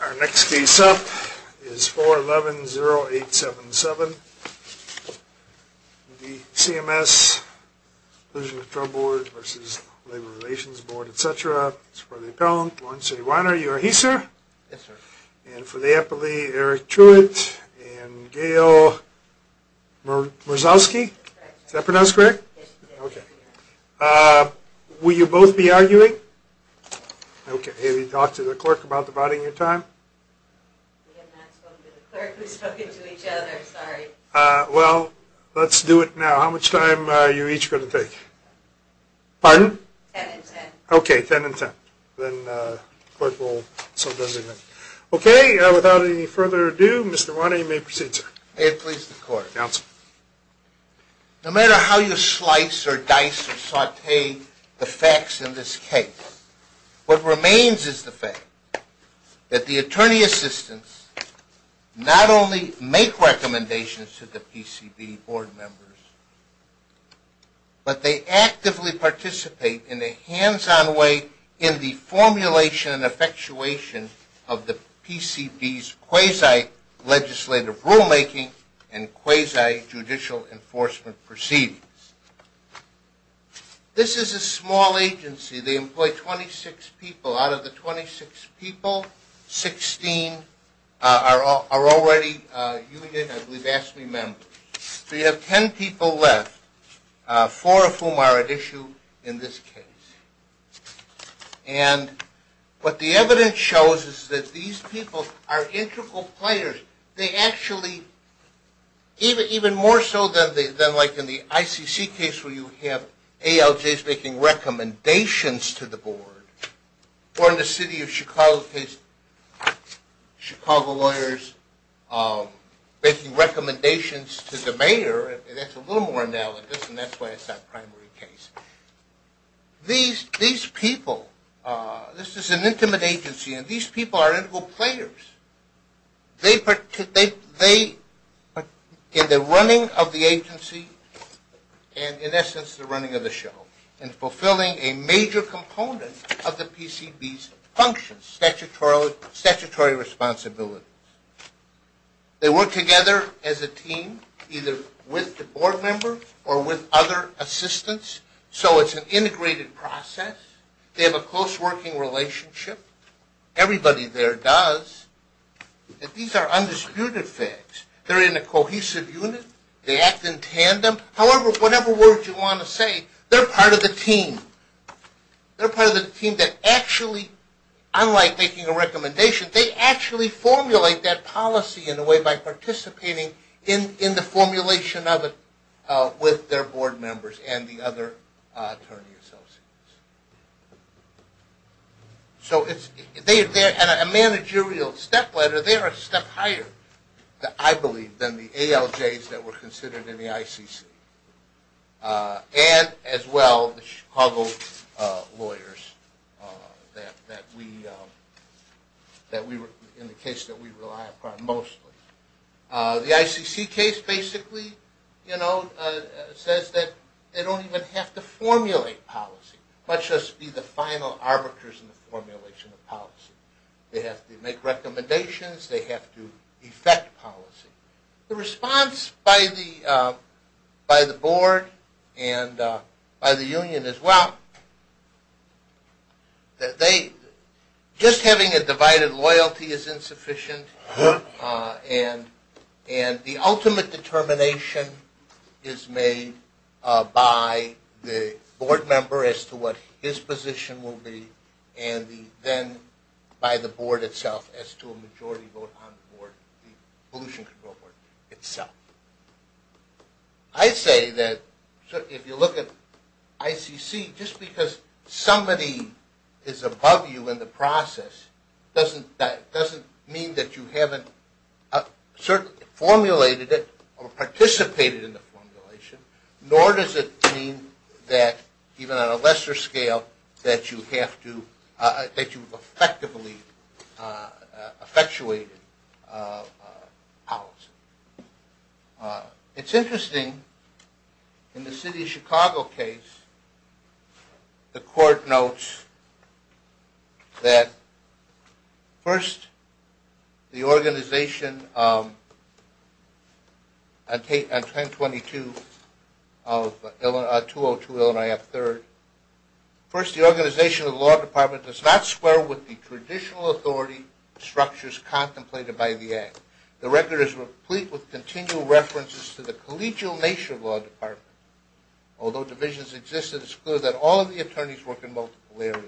Our next case up is 411-0877. The CMS Inclusion Control Board v. Labor Relations Board, etc. It's for the appellant, Lawrence A. Weiner. You are he, sir? Yes, sir. And for the appellee, Eric Truitt and Gail Murzowski. Is that pronounced correct? Okay. Will you both be arguing? Okay. Have you talked to the clerk about dividing your time? We have not spoken to the clerk. We've spoken to each other. Sorry. Well, let's do it now. How much time are you each going to take? Pardon? Ten and ten. Okay. Ten and ten. Then the clerk will sum up everything. Okay. Without any further ado, Mr. Weiner, you may proceed, sir. May it please the court. Counsel. No matter how you slice or dice or saute the facts in this case, what remains is the fact that the attorney assistants not only make recommendations to the PCB board members, but they actively participate in a hands-on way in the formulation and effectuation of the PCB's legislative rulemaking and quasi-judicial enforcement proceedings. This is a small agency. They employ 26 people. Out of the 26 people, 16 are already union, I believe, AFSCME members. So you have ten people left, four of whom are at issue in this case. And what the evidence shows is that these people are integral players. They actually, even more so than like in the ICC case where you have ALJs making recommendations to the board, or in the city of Chicago case, Chicago lawyers making recommendations to the mayor. That's a little more analogous, and that's why it's that primary case. These people, this is an intimate agency, and these people are integral players. In the running of the agency, and in essence the running of the show, in fulfilling a major component of the PCB's functions, statutory responsibilities. They work together as a team, either with the board members or with other assistants, so it's an integrated process. They have a close working relationship. Everybody there does. These are undisputed facts. They're in a cohesive unit. They act in tandem. However, whatever words you want to say, they're part of the team. They're part of the team that actually, unlike making a recommendation, they actually formulate that policy in a way by participating in the formulation of it with their board members and the other attorney associates. So they're a managerial stepladder. They're a step higher, I believe, than the ALJs that were considered in the ICC, and as well the Chicago lawyers. In the case that we rely upon mostly. The ICC case basically says that they don't even have to formulate policy, much less be the final arbiters in the formulation of policy. They have to make recommendations. They have to effect policy. The response by the board and by the union is, well, just having a divided loyalty is insufficient, and the ultimate determination is made by the board member as to what his position will be, and then by the board itself as to a majority vote on the Somebody is above you in the process doesn't mean that you haven't formulated it or participated in the formulation, nor does it mean that even on a lesser scale that you've effectively effectuated policy. It's interesting in the city of Chicago case, the court notes that first the organization on 1022 of 202 Illinois at third, first the organization of the law department does not have any professional authority structures contemplated by the act. The record is complete with continual references to the collegial nature of law department. Although divisions exist, it's clear that all of the attorneys work in multiple areas.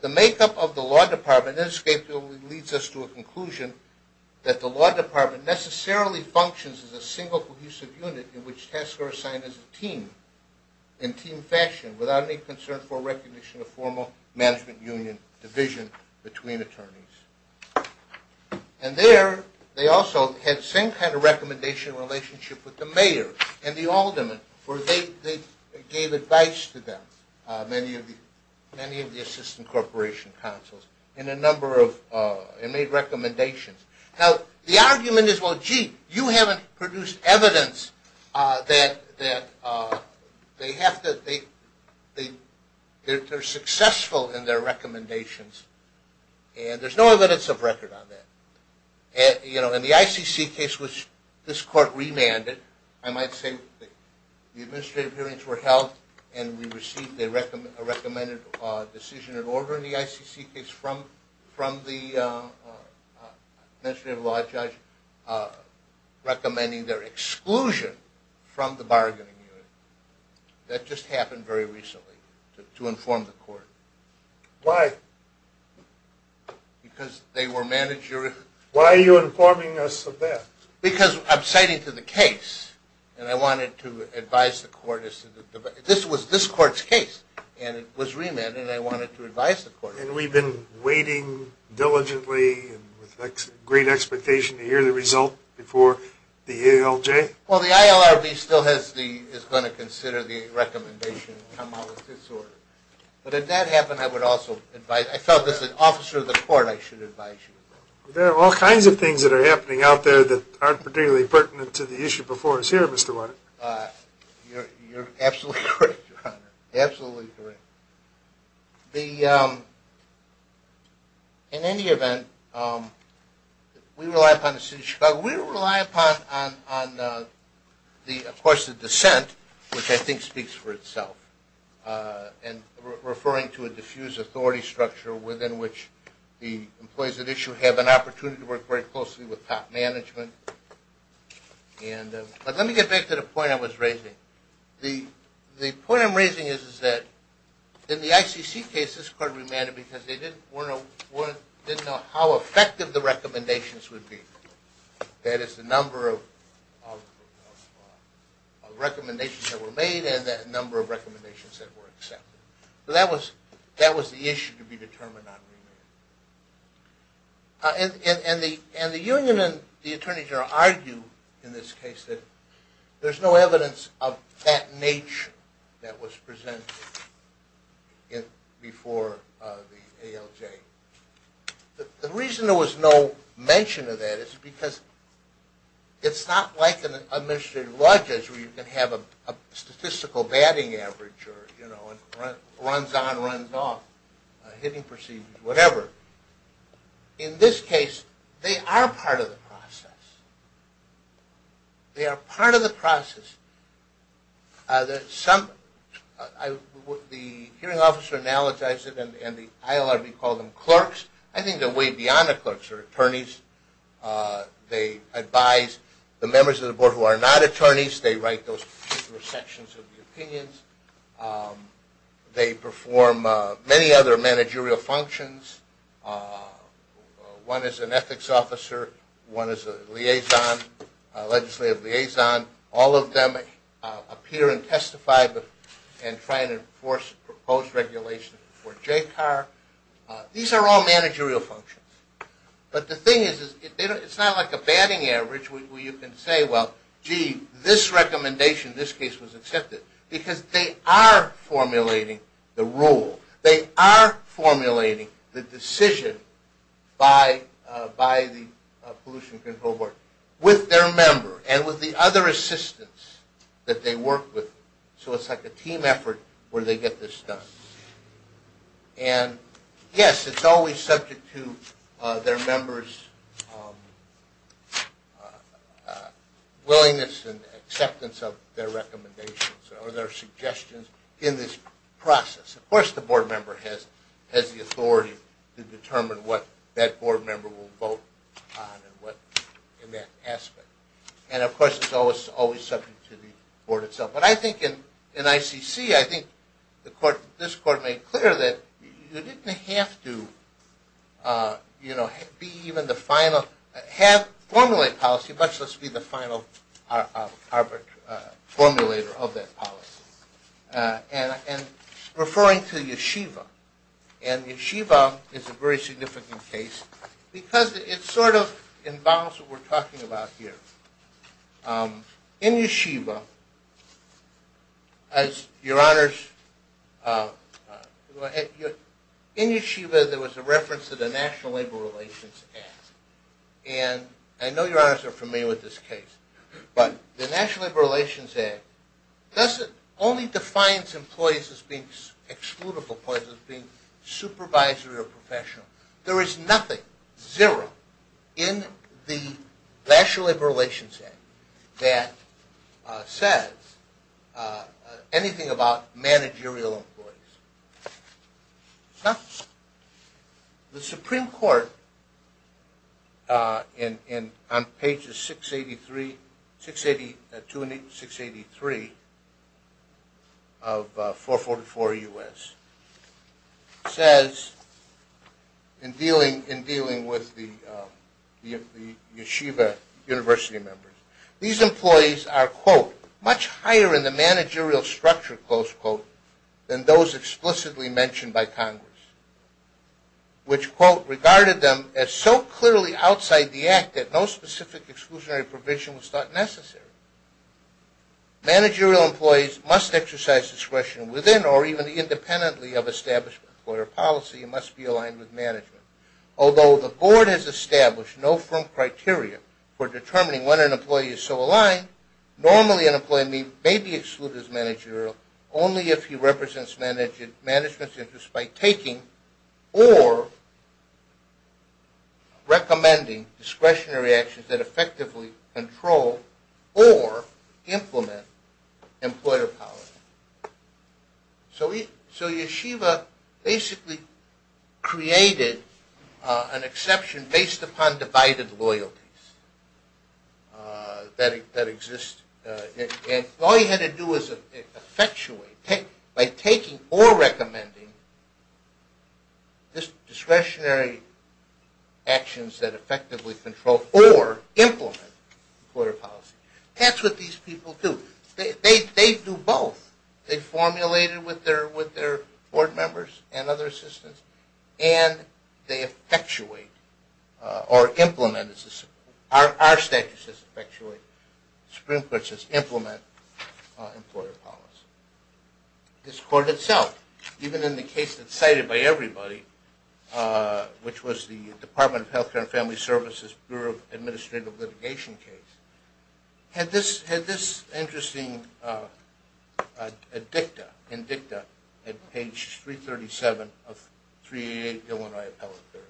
The makeup of the law department leads us to a conclusion that the law department necessarily functions as a single cohesive unit in which tasks are assigned as a team, in team fashion, without any concern for recognition of formal management union division between attorneys. And there they also had the same kind of recommendation relationship with the mayor and the aldermen, where they gave advice to them, many of the assistant corporation councils, in a number of and made recommendations. Now the argument is, well gee, you haven't produced evidence that they have to, but they're successful in their recommendations, and there's no evidence of record on that. In the ICC case, which this court remanded, I might say the administrative hearings were held and we received a recommended decision in order in the ICC case from the administrative law judge recommending their exclusion from the very recently to inform the court. Why? Because they were managerial. Why are you informing us of that? Because I'm citing to the case, and I wanted to advise the court. This was this court's case, and it was remanded, and I wanted to advise the court. And we've been waiting diligently and with great expectation to hear the result before the ALJ? Well, the ILRB still has the, is going to consider the recommendation to come out with this order. But if that happened, I would also advise, I felt as an officer of the court, I should advise you of that. There are all kinds of things that are happening out there that aren't particularly pertinent to the issue before us here, Mr. Warner. You're absolutely correct, Your Honor. Absolutely correct. In any event, we rely upon the City of Chicago. We rely upon, of course, the dissent, which I think speaks for itself, and referring to a diffused authority structure within which the employees at issue have an opportunity to work very closely with top management. But let me get back to the point I was raising. The point I'm raising is that in the ICC case, this court remanded because they didn't know how effective the recommendations would be. That is, the number of recommendations that were made and the number of recommendations that were accepted. That was the issue to be determined on remand. And the union and the board, there's no evidence of that nature that was presented before the ALJ. The reason there was no mention of that is because it's not like an administrative lodges where you can have a statistical batting average, you know, runs on, runs off, hitting procedures, whatever. In this case, they are part of the process. They are part of the process. The hearing officer analogizes it and the ILRB calls them clerks. I think they're way beyond the clerks. They're attorneys. They advise the many other managerial functions. One is an ethics officer. One is a liaison, legislative liaison. All of them appear and testify and try to enforce proposed regulations for JCAR. These are all managerial functions. But the thing is, it's not like a batting average where you can say, well, gee, this recommendation, this case was accepted. Because they are formulating the rule. They are formulating the decision by the Pollution Control Board with their member and with the other assistants that they work with. So it's like a team effort where they get this done. And yes, it's always subject to their members' willingness and acceptance of their recommendations or their suggestions in this process. Of course, the board member has the authority to determine what that board member will vote on and what in that I think this court made clear that you didn't have to be even the final, have formulated policy, much less be the final formulator of that policy. And referring to Yeshiva, and Yeshiva is a very significant case because it sort of involves what we're talking about here. In Yeshiva, as your honors, in Yeshiva, there was a reference to the National Labor Relations Act. And I know your honors are familiar with this case, but the National Labor Relations Act only defines employees as being exclusive employees, as being supervisory or professional. There is nothing, zero, in the Act about managerial employees. The Supreme Court, on pages 682 and 683 of 444 U.S., says in dealing with the Yeshiva University members, These employees are, quote, much higher in the managerial structure, close quote, than those explicitly mentioned by Congress, which, quote, regarded them as so clearly outside the Act that no specific exclusionary provision was thought necessary. Managerial employees must exercise discretion within or even independently of established employer policy and must be aligned with management. Although the board has established no firm criteria for employees so aligned, normally an employee may be excluded as managerial only if he represents management's interests by taking or recommending discretionary actions that effectively control or implement employer policy. So Yeshiva basically created an exception based upon divided loyalties that exist. And all you had to do was effectuate, by taking or recommending discretionary actions that effectively control or implement employer policy. That's what these people do. They do both. They formulate it with their board members and other assistants and they effectuate or implement, our statute says effectuate, the Supreme Court says implement employer policy. This court itself, even in the case that's cited by everybody, which was the Department of Healthcare and Family Services Bureau Administrative Litigation case, had this interesting dicta in dicta at page 337 of 388 Illinois appellate period.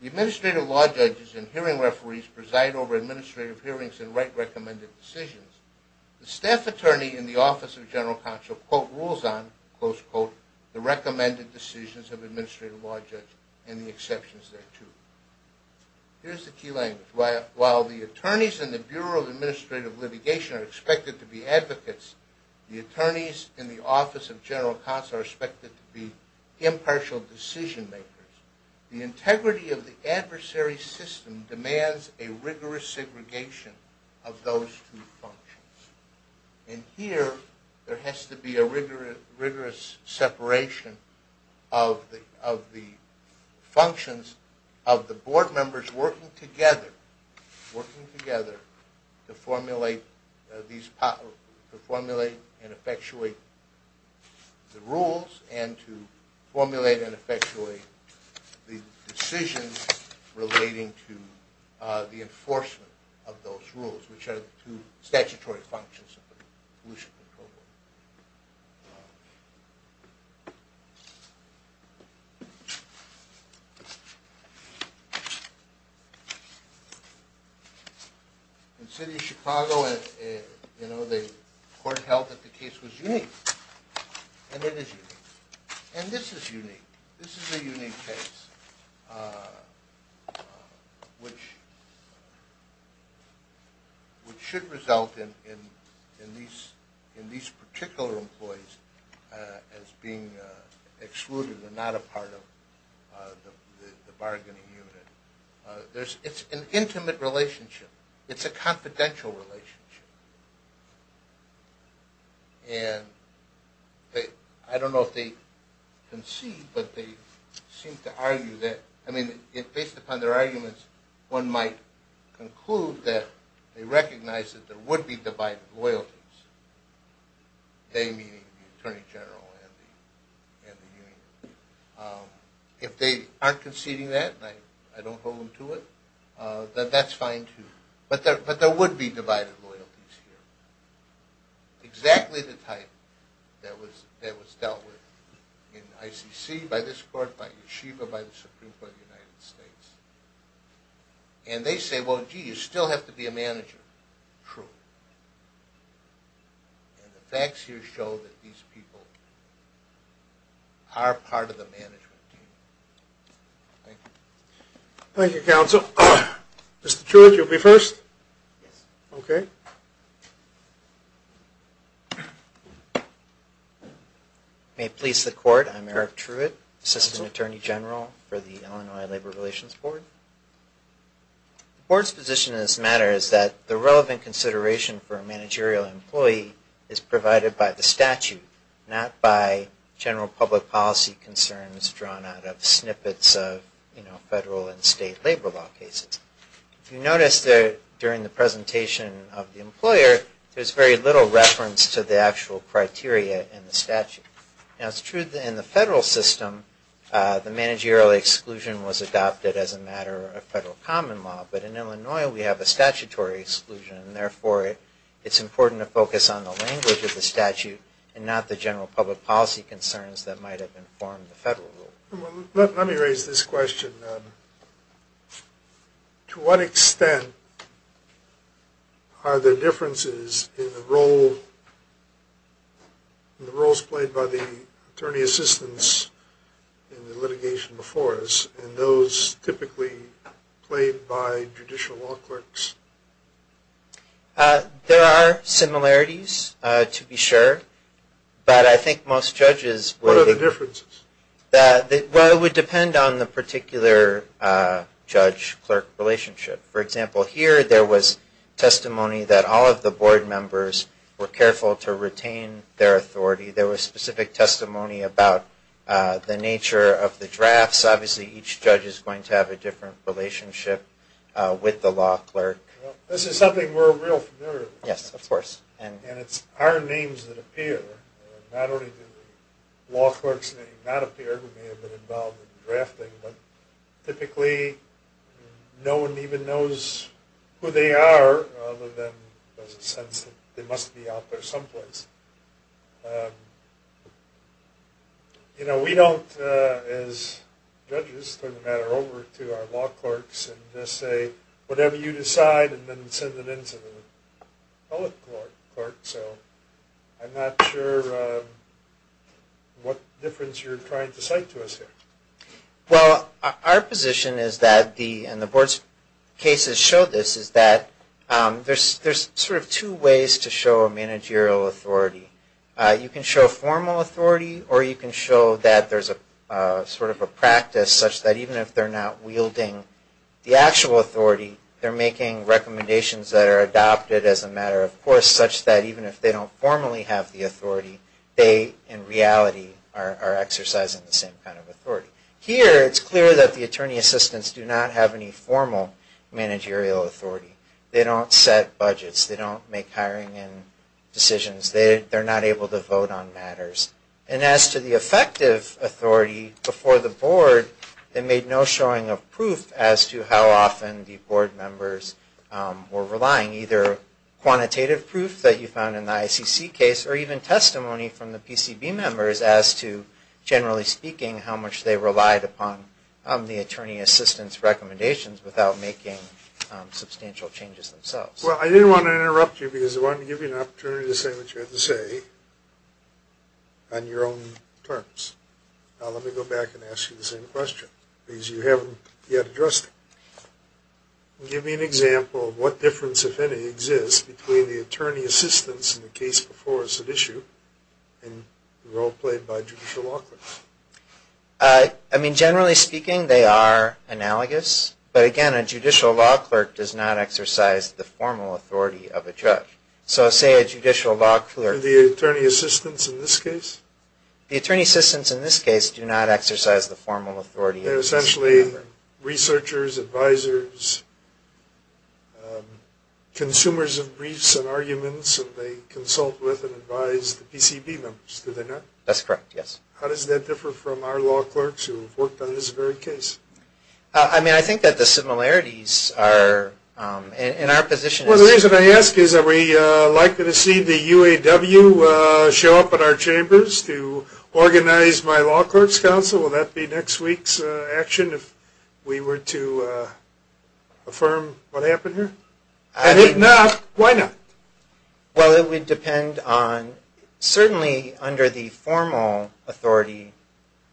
The administrative law judges and hearing referees preside over administrative hearings and write recommended decisions. The staff attorney in the Office of General Counsel, quote, rules on, close quote, the recommended decisions of administrative law judges and the exceptions there too. Here's the key language. While the attorneys in the Bureau of Administrative Litigation are expected to be advocates, the attorneys in the Office of General Counsel are expected to be impartial decision makers. The integrity of the adversary system demands a rigorous segregation of those two functions. And here there has to be a rigorous separation of the functions of the board members working together to formulate and effectuate the rules and to formulate and effectuate the decisions relating to the enforcement of those rules, which are the two statutory functions of the pollution control board. In the city of Chicago, the court held that the case was unique. And it is unique. And this is unique. This is a unique case, which should result in these particular employees as being excluded and not a part of the bargaining unit. It's an intimate relationship. It's a confidential relationship. And I don't know if they concede, but they seem to argue that, I mean, based upon their arguments, one might conclude that they recognize that there would be divided loyalties, they meaning the attorney general and the union. If they aren't conceding that, and I don't hold them to it, then that's fine too. But there would be divided loyalties here. Exactly the type that was dealt with in ICC, by this court, by Yeshiva, by the Supreme Court of the United States. And they say, well, gee, you still have to be a manager. True. And the facts here show that these people are part of the management team. Thank you. Thank you, counsel. Mr. Truitt, you'll be first? May it please the court, I'm Eric Truitt, assistant attorney general for the Illinois Labor Relations Board. The board's position in this matter is that the relevant consideration for a managerial employee is provided by the statute, not by general public policy concerns drawn out of snippets of, you know, federal and state labor law cases. You notice that during the presentation of the employer, there's very little reference to the actual criteria in the statute. Now, it's true that in the federal system, the managerial exclusion was adopted as a matter of federal common law, but in Illinois, we have a statutory exclusion, and therefore, it's important to focus on the language of the statute and not the general public policy concerns that might have informed the federal rule. Let me raise this question. To what extent are there differences in the roles played by the attorney assistants in the litigation before us, and those typically played by judicial law clerks? There are similarities, to be sure, but I think most judges would... What are the differences? Well, it would depend on the particular judge-clerk relationship. For example, here, there was testimony that all of the board members were careful to retain their authority. There was specific testimony about the nature of the drafts. Obviously, each judge is going to have a different relationship with the law clerk. This is something we're real familiar with. Yes, of course. And it's our names that appear. Not only do the law clerks' names not appear, we may have been involved in drafting, but typically, no one even knows who they are, other than there's a sense that they must be out there someplace. You know, we don't, as judges, turn the matter over to our law clerks and just say, whatever you decide, and then send it in to the public court. So I'm not sure what difference you're trying to cite to us here. Well, our position is that, and the board's cases show this, is that there's sort of two ways to show a managerial authority. You can show formal authority, or you can show that there's sort of a practice such that even if they're not wielding the actual authority, they're making recommendations that are adopted as a matter of course, such that even if they don't formally have the authority, they, in reality, are exercising the same kind of authority. Here, it's clear that the attorney assistants do not have any formal managerial authority. They don't set budgets. They don't make hiring and decisions. They're not able to vote on matters. And as to the effective authority before the board, it made no showing of proof as to how often the board members were relying, either quantitative proof that you found in the ICC case, or even testimony from the PCB members as to, generally speaking, how much they relied upon the attorney assistants' recommendations without making substantial changes themselves. Well, I didn't want to interrupt you because I wanted to give you an opportunity to say what you had to say on your own terms. Now, let me go back and ask you the same question, because you haven't yet addressed it. Give me an example of what difference, if any, exists between the attorney assistants in the case before us at issue and the role played by judicial law clerks. I mean, generally speaking, they are analogous. But again, a judicial law clerk does not exercise the formal authority of a judge. So, say a judicial law clerk... The attorney assistants in this case? The attorney assistants in this case do not exercise the formal authority... They're essentially researchers, advisors, consumers of briefs and arguments, and they consult with and advise the PCB members, do they not? That's correct, yes. How does that differ from our law clerks who have worked on this very case? I mean, I think that the similarities are, in our position... Well, the reason I ask is, are we likely to see the UAW show up at our chambers to organize my law clerks' council? Will that be next week's action, if we were to affirm what happened here? If not, why not? Well, it would depend on... Certainly, under the formal authority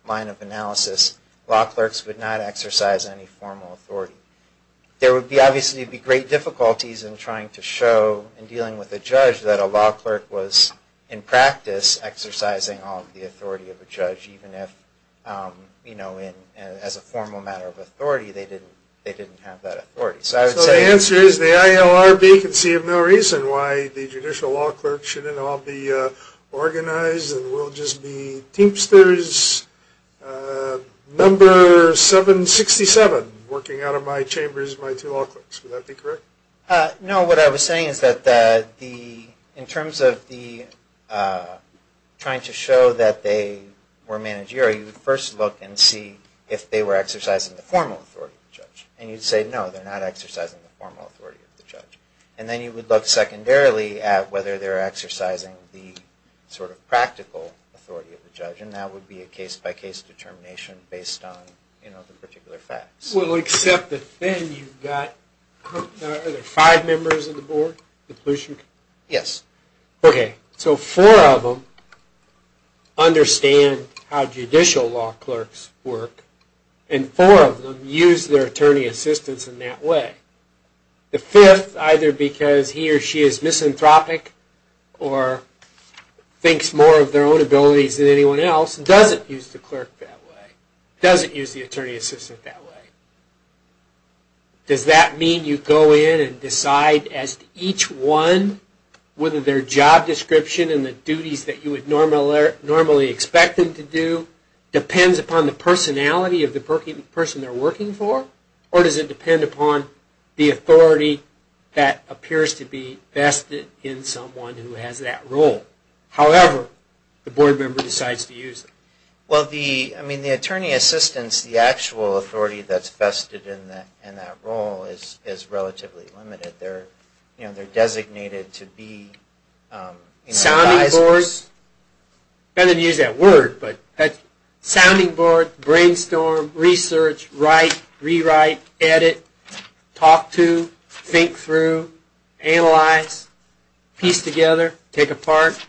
line of analysis, law clerks would not exercise any formal authority. There would obviously be great difficulties in trying to show, in dealing with a judge, that a law clerk was, in practice, exercising all of the authority of a judge, even if, you know, as a formal matter of authority, they didn't have that authority. So the answer is, the ILRB can see of no reason why the judicial law clerks shouldn't all be organized and will just be teamsters, number 767, working out of my chambers, my two law clerks. Would that be correct? No, what I was saying is that, in terms of trying to show that they were managerial, you would first look and see if they were exercising the formal authority of the judge. And you'd say, no, they're not exercising the formal authority of the judge. And then you would look secondarily at whether they're exercising the sort of practical authority of the judge, and that would be a case-by-case determination based on, you know, the particular facts. Well, except that then you've got, are there five members of the board? Yes. Okay, so four of them understand how judicial law clerks work, and four of them use their attorney assistants in that way. The fifth, either because he or she is misanthropic or thinks more of their own abilities than anyone else, doesn't use the clerk that way, doesn't use the attorney assistant that way. Does that mean you go in and decide as to each one, whether their job description and the duties that you would normally expect them to do depends upon the personality of the person they're working for, or does it depend upon the authority that appears to be vested in someone who has that role? However, the board member decides to use them. Well, the, I mean, the attorney assistants, the actual authority that's vested in that role is relatively limited. They're, you know, they're designated to be, you know, advisors. Sounding boards, better to use that word, but that's, sounding board, brainstorm, research, write, rewrite, edit, talk to, think through, analyze, piece together, take apart,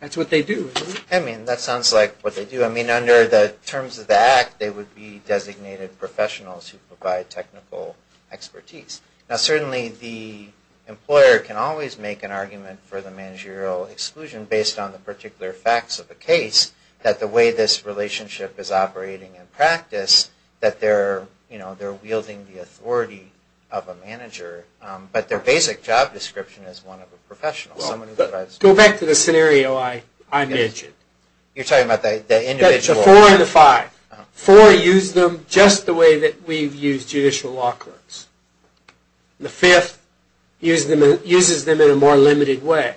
that's what they do, isn't it? I mean, that sounds like what they do. I mean, under the terms of the act, they would be designated professionals who provide technical expertise. Now, certainly the employer can always make an argument for the managerial exclusion based on the particular facts of the case, that the way this relationship is operating in practice, that they're, you know, they're wielding the authority of a manager. But their basic job description is one of a professional, someone who provides... Go back to the scenario I mentioned. You're talking about the individual... The four and the five. Four use them just the way that we've used judicial law courts. The fifth uses them in a more limited way.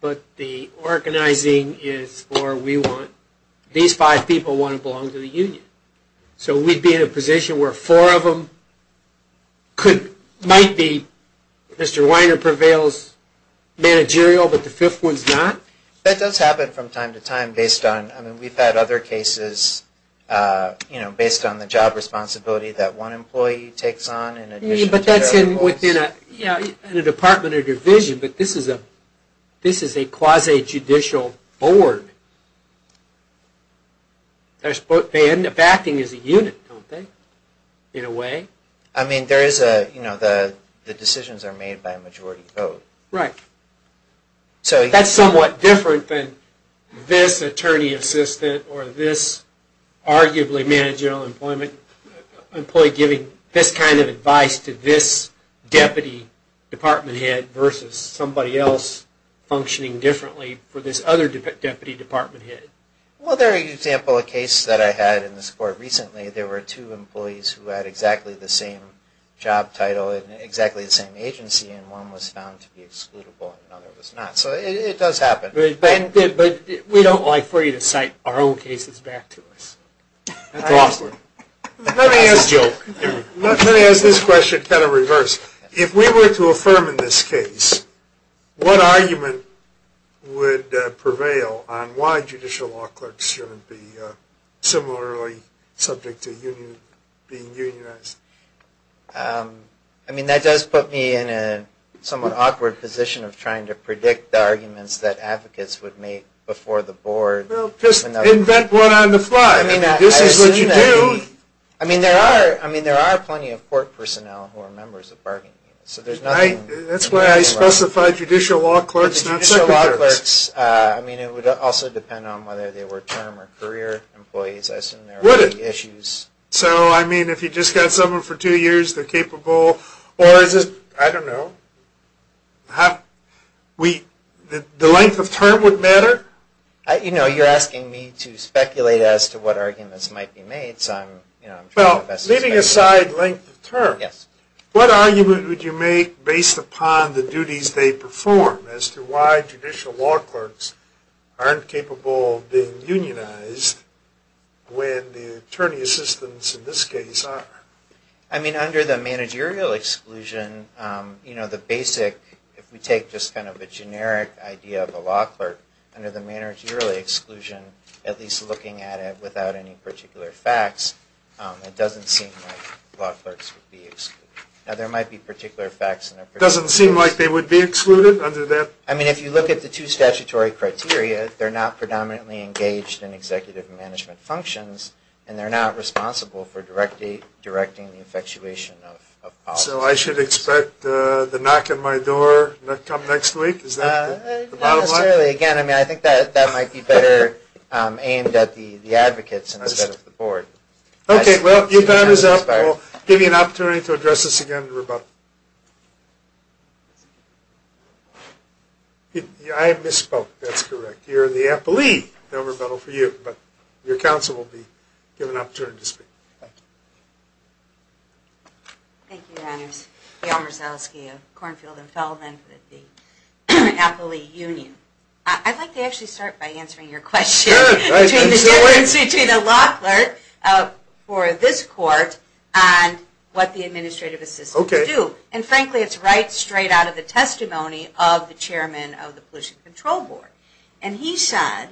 But the organizing is for, we want, these five people want to belong to the union. So we'd be in a position where four of them could, might be, Mr. Weiner prevails managerial, but the fifth one's not? That does happen from time to time based on, I mean, we've had other cases, you know, based on the job responsibility that one employee takes on in addition to the other employees. But that's in, within a, yeah, in a department or division, but this is a quasi-judicial board. They end up acting as a unit, don't they, in a way? I mean, there is a, you know, the decisions are made by a majority vote. Right. So... That's somewhat different than this attorney assistant or this arguably managerial employee giving this kind of advice to this deputy department head versus somebody else functioning differently for this other deputy department head. Well, there's an example of a case that I had in this court recently. There were two employees who had exactly the same job title and exactly the same agency, and one was found to be excludable and the other was not. So it does happen. But we don't like for you to cite our own cases back to us. That's awesome. Let me ask Joe, let me ask this question kind of reversed. If we were to affirm in this case, what argument would prevail on why judicial law clerks shouldn't be similarly subject to being unionized? I mean, that does put me in a somewhat awkward position of trying to predict the arguments that advocates would make before the board. Well, just invent one on the fly. I mean, this is what you do. I mean, there are plenty of court personnel who are members of bargaining units. That's why I specified judicial law clerks, not second clerks. Judicial law clerks, I mean, it would also depend on whether they were term or career employees. Would it? I assume there would be issues. So, I mean, if you just got someone for two years, they're capable, or is it, I don't know, the length of term would matter? You know, you're asking me to speculate as to what arguments might be made, so I'm trying my best to speculate. Well, leaving aside length of term, what argument would you make based upon the duties they perform as to why judicial law clerks aren't capable of being unionized when the attorney assistants in this case are? I mean, under the managerial exclusion, you know, the basic, if we take just kind of a generic idea of a law clerk, under the managerial exclusion, at least looking at it without any particular facts, it doesn't seem like law clerks would be excluded. Now, there might be particular facts. It doesn't seem like they would be excluded under that? I mean, if you look at the two statutory criteria, they're not predominantly engaged in executive management functions, and they're not responsible for directing the effectuation of policies. So I should expect the knock on my door to come next week? Is that the bottom line? Not necessarily. Again, I mean, I think that might be better aimed at the advocates instead of the board. Okay, well, your time is up. We'll give you an opportunity to address this again in rebuttal. I misspoke. That's correct. You're the appellee. No rebuttal for you. But your counsel will be given an opportunity to speak. Thank you. Thank you, Your Honors. Gail Marsalski of Cornfield and Feldman with the Appellee Union. I'd like to actually start by answering your question. Sure. Between the difference between a law clerk for this court and what the administrative assistants do. And frankly, it's right straight out of the testimony of the chairman of the Pollution Control Board. And he said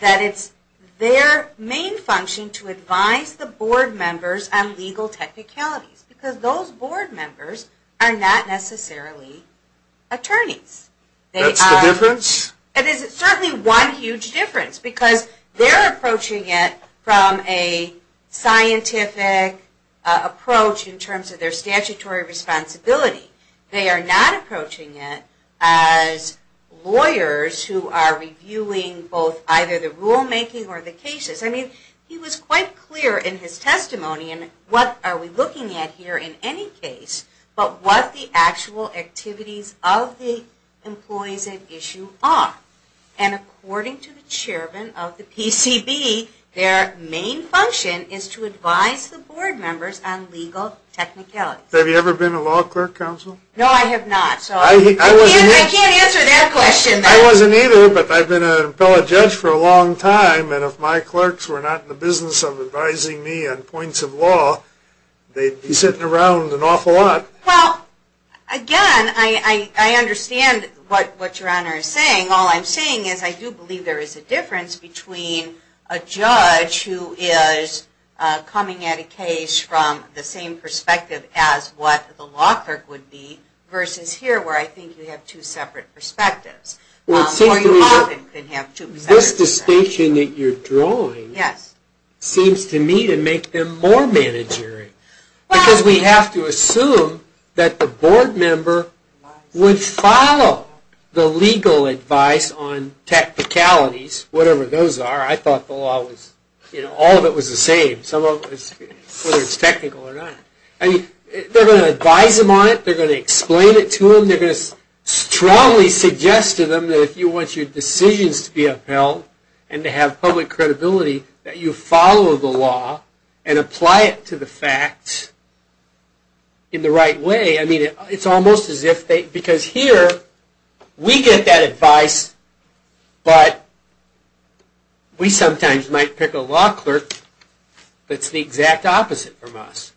that it's their main function to advise the board members on legal technicalities, because those board members are not necessarily attorneys. That's the difference? It is certainly one huge difference, because they're approaching it from a scientific approach in terms of their statutory responsibility. They are not approaching it as lawyers who are reviewing both either the rulemaking or the cases. I mean, he was quite clear in his testimony in what are we looking at here in any case, but what the actual activities of the employees at issue are. And according to the chairman of the PCB, their main function is to advise the board members on legal technicalities. Have you ever been a law clerk, counsel? No, I have not. I can't answer that question. I wasn't either, but I've been an appellate judge for a long time. And if my clerks were not in the business of advising me on points of law, they'd be sitting around an awful lot. Well, again, I understand what your honor is saying. All I'm saying is I do believe there is a difference between a judge who is coming at a case from the same perspective as what the law clerk would be, versus here where I think you have two separate perspectives. Well, it seems to me that this distinction that you're drawing seems to me to make them more managerial. Because we have to assume that the board member would follow the legal advice on technicalities, whatever those are. I thought the law was, you know, all of it was the same, whether it's technical or not. They're going to advise them on it. They're going to explain it to them. They're going to strongly suggest to them that if you want your decisions to be upheld and to have public credibility, that you follow the law and apply it to the facts in the right way. I mean, it's almost as if they, because here we get that advice, but we sometimes might pick a law clerk that's the exact opposite from us,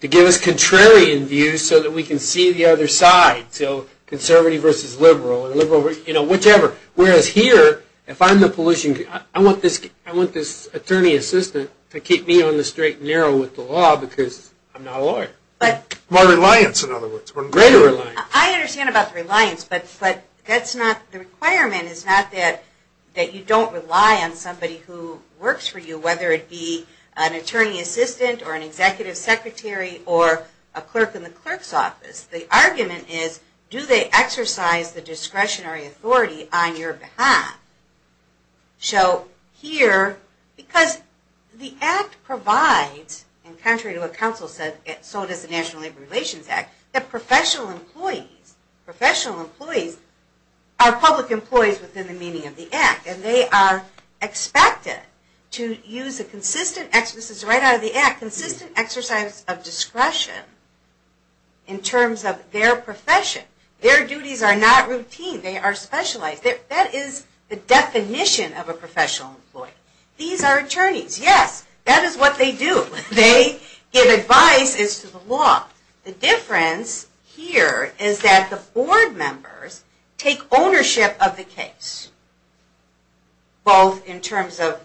to give us contrarian views so that we can see the other side. So, conservative versus liberal, or liberal, you know, whichever. Whereas here, if I'm the pollution, I want this attorney assistant to keep me on the straight and narrow with the law because I'm not a lawyer. More reliance, in other words. Greater reliance. I understand about the reliance, but that's not, the requirement is not that you don't rely on somebody who works for you, whether it be an attorney assistant or an executive secretary or a clerk in the clerk's office. The argument is, do they exercise the discretionary authority on your behalf? So, here, because the Act provides, and contrary to what counsel said, so does the National Labor Relations Act, that professional employees, professional employees are public employees within the meaning of the Act. And they are expected to use a consistent, this is right out of the Act, consistent exercise of discretion in terms of their profession. Their duties are not routine. They are specialized. That is the definition of a professional employee. These are attorneys. Yes, that is what they do. They give advice as to the law. The difference here is that the board members take ownership of the case, both in terms of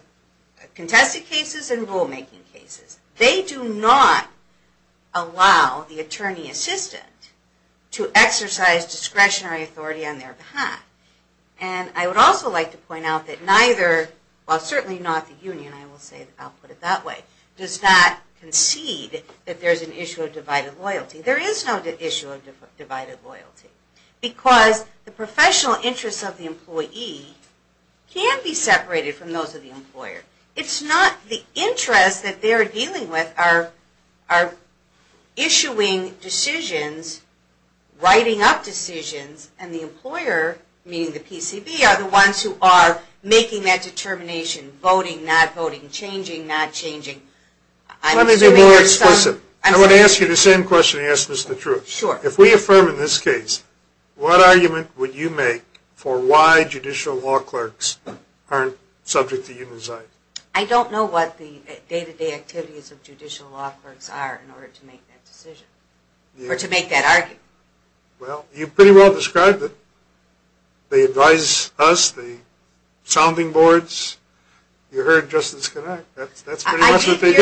contested cases and rulemaking cases. They do not allow the attorney assistant to exercise discretionary authority on their behalf. And I would also like to point out that neither, well certainly not the union, I will say, I'll put it that way, does not concede that there is an issue of divided loyalty. There is no issue of divided loyalty. Because the professional interests of the employee can be separated from those of the employer. It is not the interests that they are dealing with are issuing decisions, writing up decisions, and the employer, meaning the PCB, are the ones who are making that determination. Voting, not voting. Changing, not changing. Let me be more explicit. I want to ask you the same question and ask this the truth. Sure. If we affirm in this case, what argument would you make for why judicial law clerks aren't subject to unionization? I don't know what the day-to-day activities of judicial law clerks are in order to make that decision. Or to make that argument. Well, you pretty well described it. They advise us, the sounding boards. You heard Justice Connacht. That's pretty much what they do.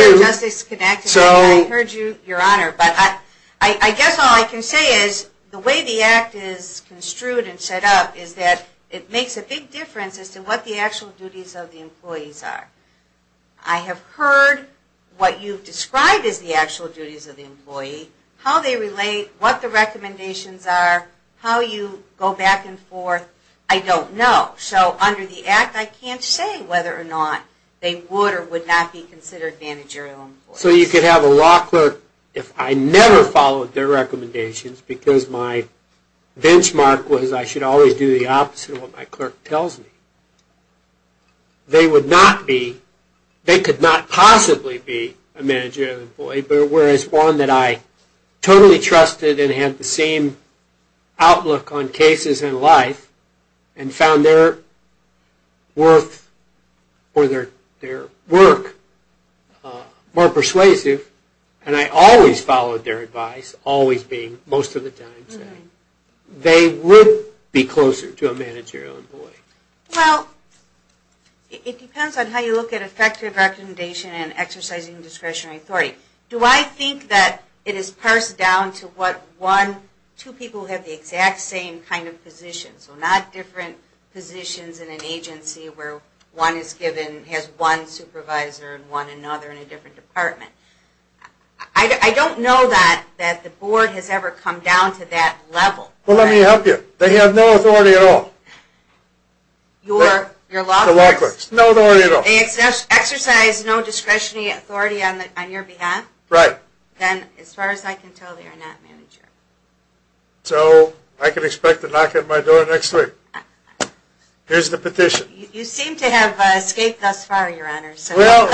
I guess all I can say is the way the Act is construed and set up is that it makes a big difference as to what the actual duties of the employees are. I have heard what you've described as the actual duties of the employee, how they relate, what the recommendations are, how you go back and forth. I don't know. So under the Act, I can't say whether or not they would or would not be considered managerial employees. So you could have a law clerk, if I never followed their recommendations, because my benchmark was I should always do the opposite of what my clerk tells me, they would not be, they could not possibly be a managerial employee, but whereas one that I totally trusted and had the same outlook on cases in life and found their worth or their work more persuasive, and I always followed their advice, always being, most of the time saying, they would be closer to a managerial employee. Well, it depends on how you look at effective recommendation and exercising discretionary authority. Do I think that it is parsed down to what one, two people have the exact same kind of position, so not different positions in an agency where one is given, has one supervisor and one another in a different department. I don't know that the board has ever come down to that level. Well, let me help you. They have no authority at all. Your law clerks? No authority at all. They exercise no discretionary authority on your behalf? Right. Then, as far as I can tell, they are not managerial. So I can expect a knock at my door next week. Here's the petition. You seem to have escaped thus far, Your Honor. Well,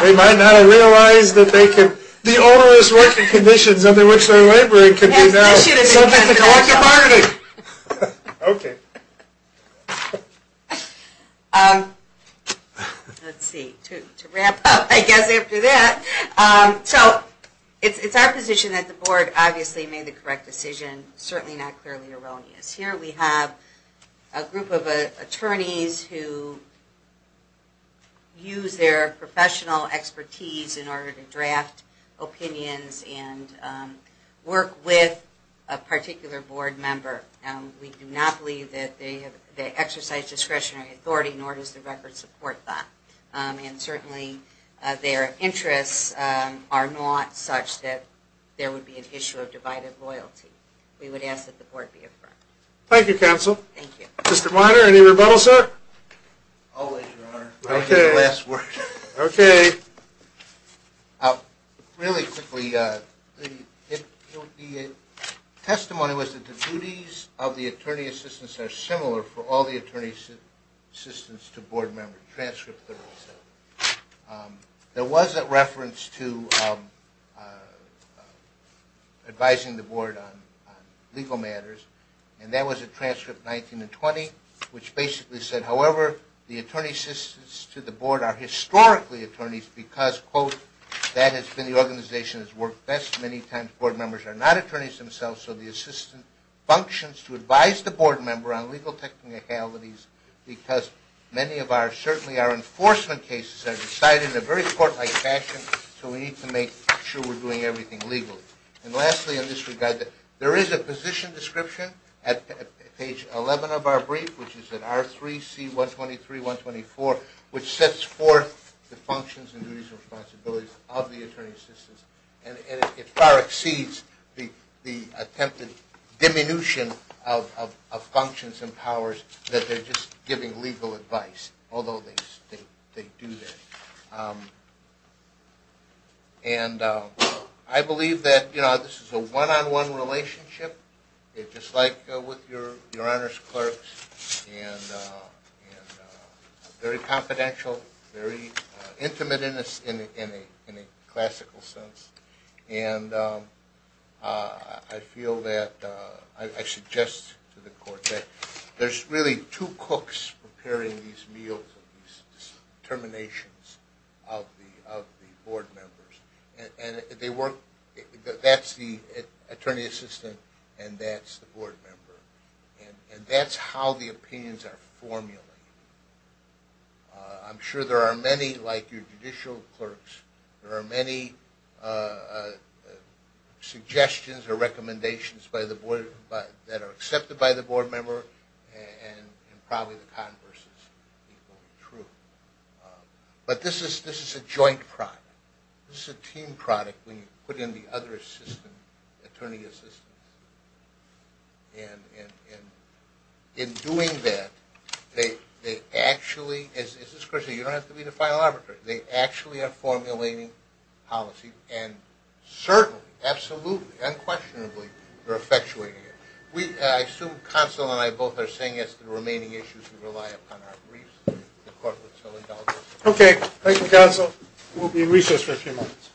they might not have realized that the onerous working conditions under which they are laboring could be subject to collective bargaining. Okay. Let's see. To wrap up, I guess, after that. So, it's our position that the board obviously made the correct decision, certainly not clearly erroneous. Here we have a group of attorneys who use their professional expertise in order to draft opinions and work with a particular board member. We do not believe that they exercise discretionary authority, nor does the record support that. And certainly, their interests are not such that there would be an issue of divided loyalty. We would ask that the board be affirmed. Thank you, Counsel. Thank you. Mr. Weiner, any rebuttal, sir? Always, Your Honor. Okay. Last word. Okay. Really quickly, the testimony was that the duties of the attorney assistants are similar for all the attorney assistants to board members. There was a reference to advising the board on legal matters, and that was a transcript 19 and 20, which basically said, however, the attorney assistants to the board are historically attorneys because, quote, that has been the organization that has worked best many times. Board members are not attorneys themselves, so the assistant functions to advise the board member on legal technicalities because many of our enforcement cases are decided in a very court-like fashion, so we need to make sure we're doing everything legally. And lastly, in this regard, there is a position description at page 11 of our brief, which is at R3C123-124, which sets forth the functions and duties and responsibilities of the attorney assistants, and it far exceeds the attempted diminution of functions and powers that they're just giving legal advice, although they do that. And I believe that, you know, this is a one-on-one relationship, just like with Your Honor's clerks, and very confidential, very intimate in a classical sense, and I feel that I suggest to the court that there's really two cooks preparing these meals, these terminations of the board members, and that's the attorney assistant and that's the board member, and that's how the opinions are formulated. I'm sure there are many, like your judicial clerks, there are many suggestions or recommendations that are accepted by the board member, and probably the converse is equally true. But this is a joint product. This is a team product when you put in the other assistant, attorney assistants. And in doing that, they actually – this is crucial, you don't have to be the final arbiter – they actually are formulating policy, and certainly, absolutely, unquestionably, they're effectuating it. We – I assume Counsel and I both are saying it's the remaining issues we rely upon our briefs. The court would so indulge us. Okay. Thank you, Counsel. We'll be in recess for a few minutes.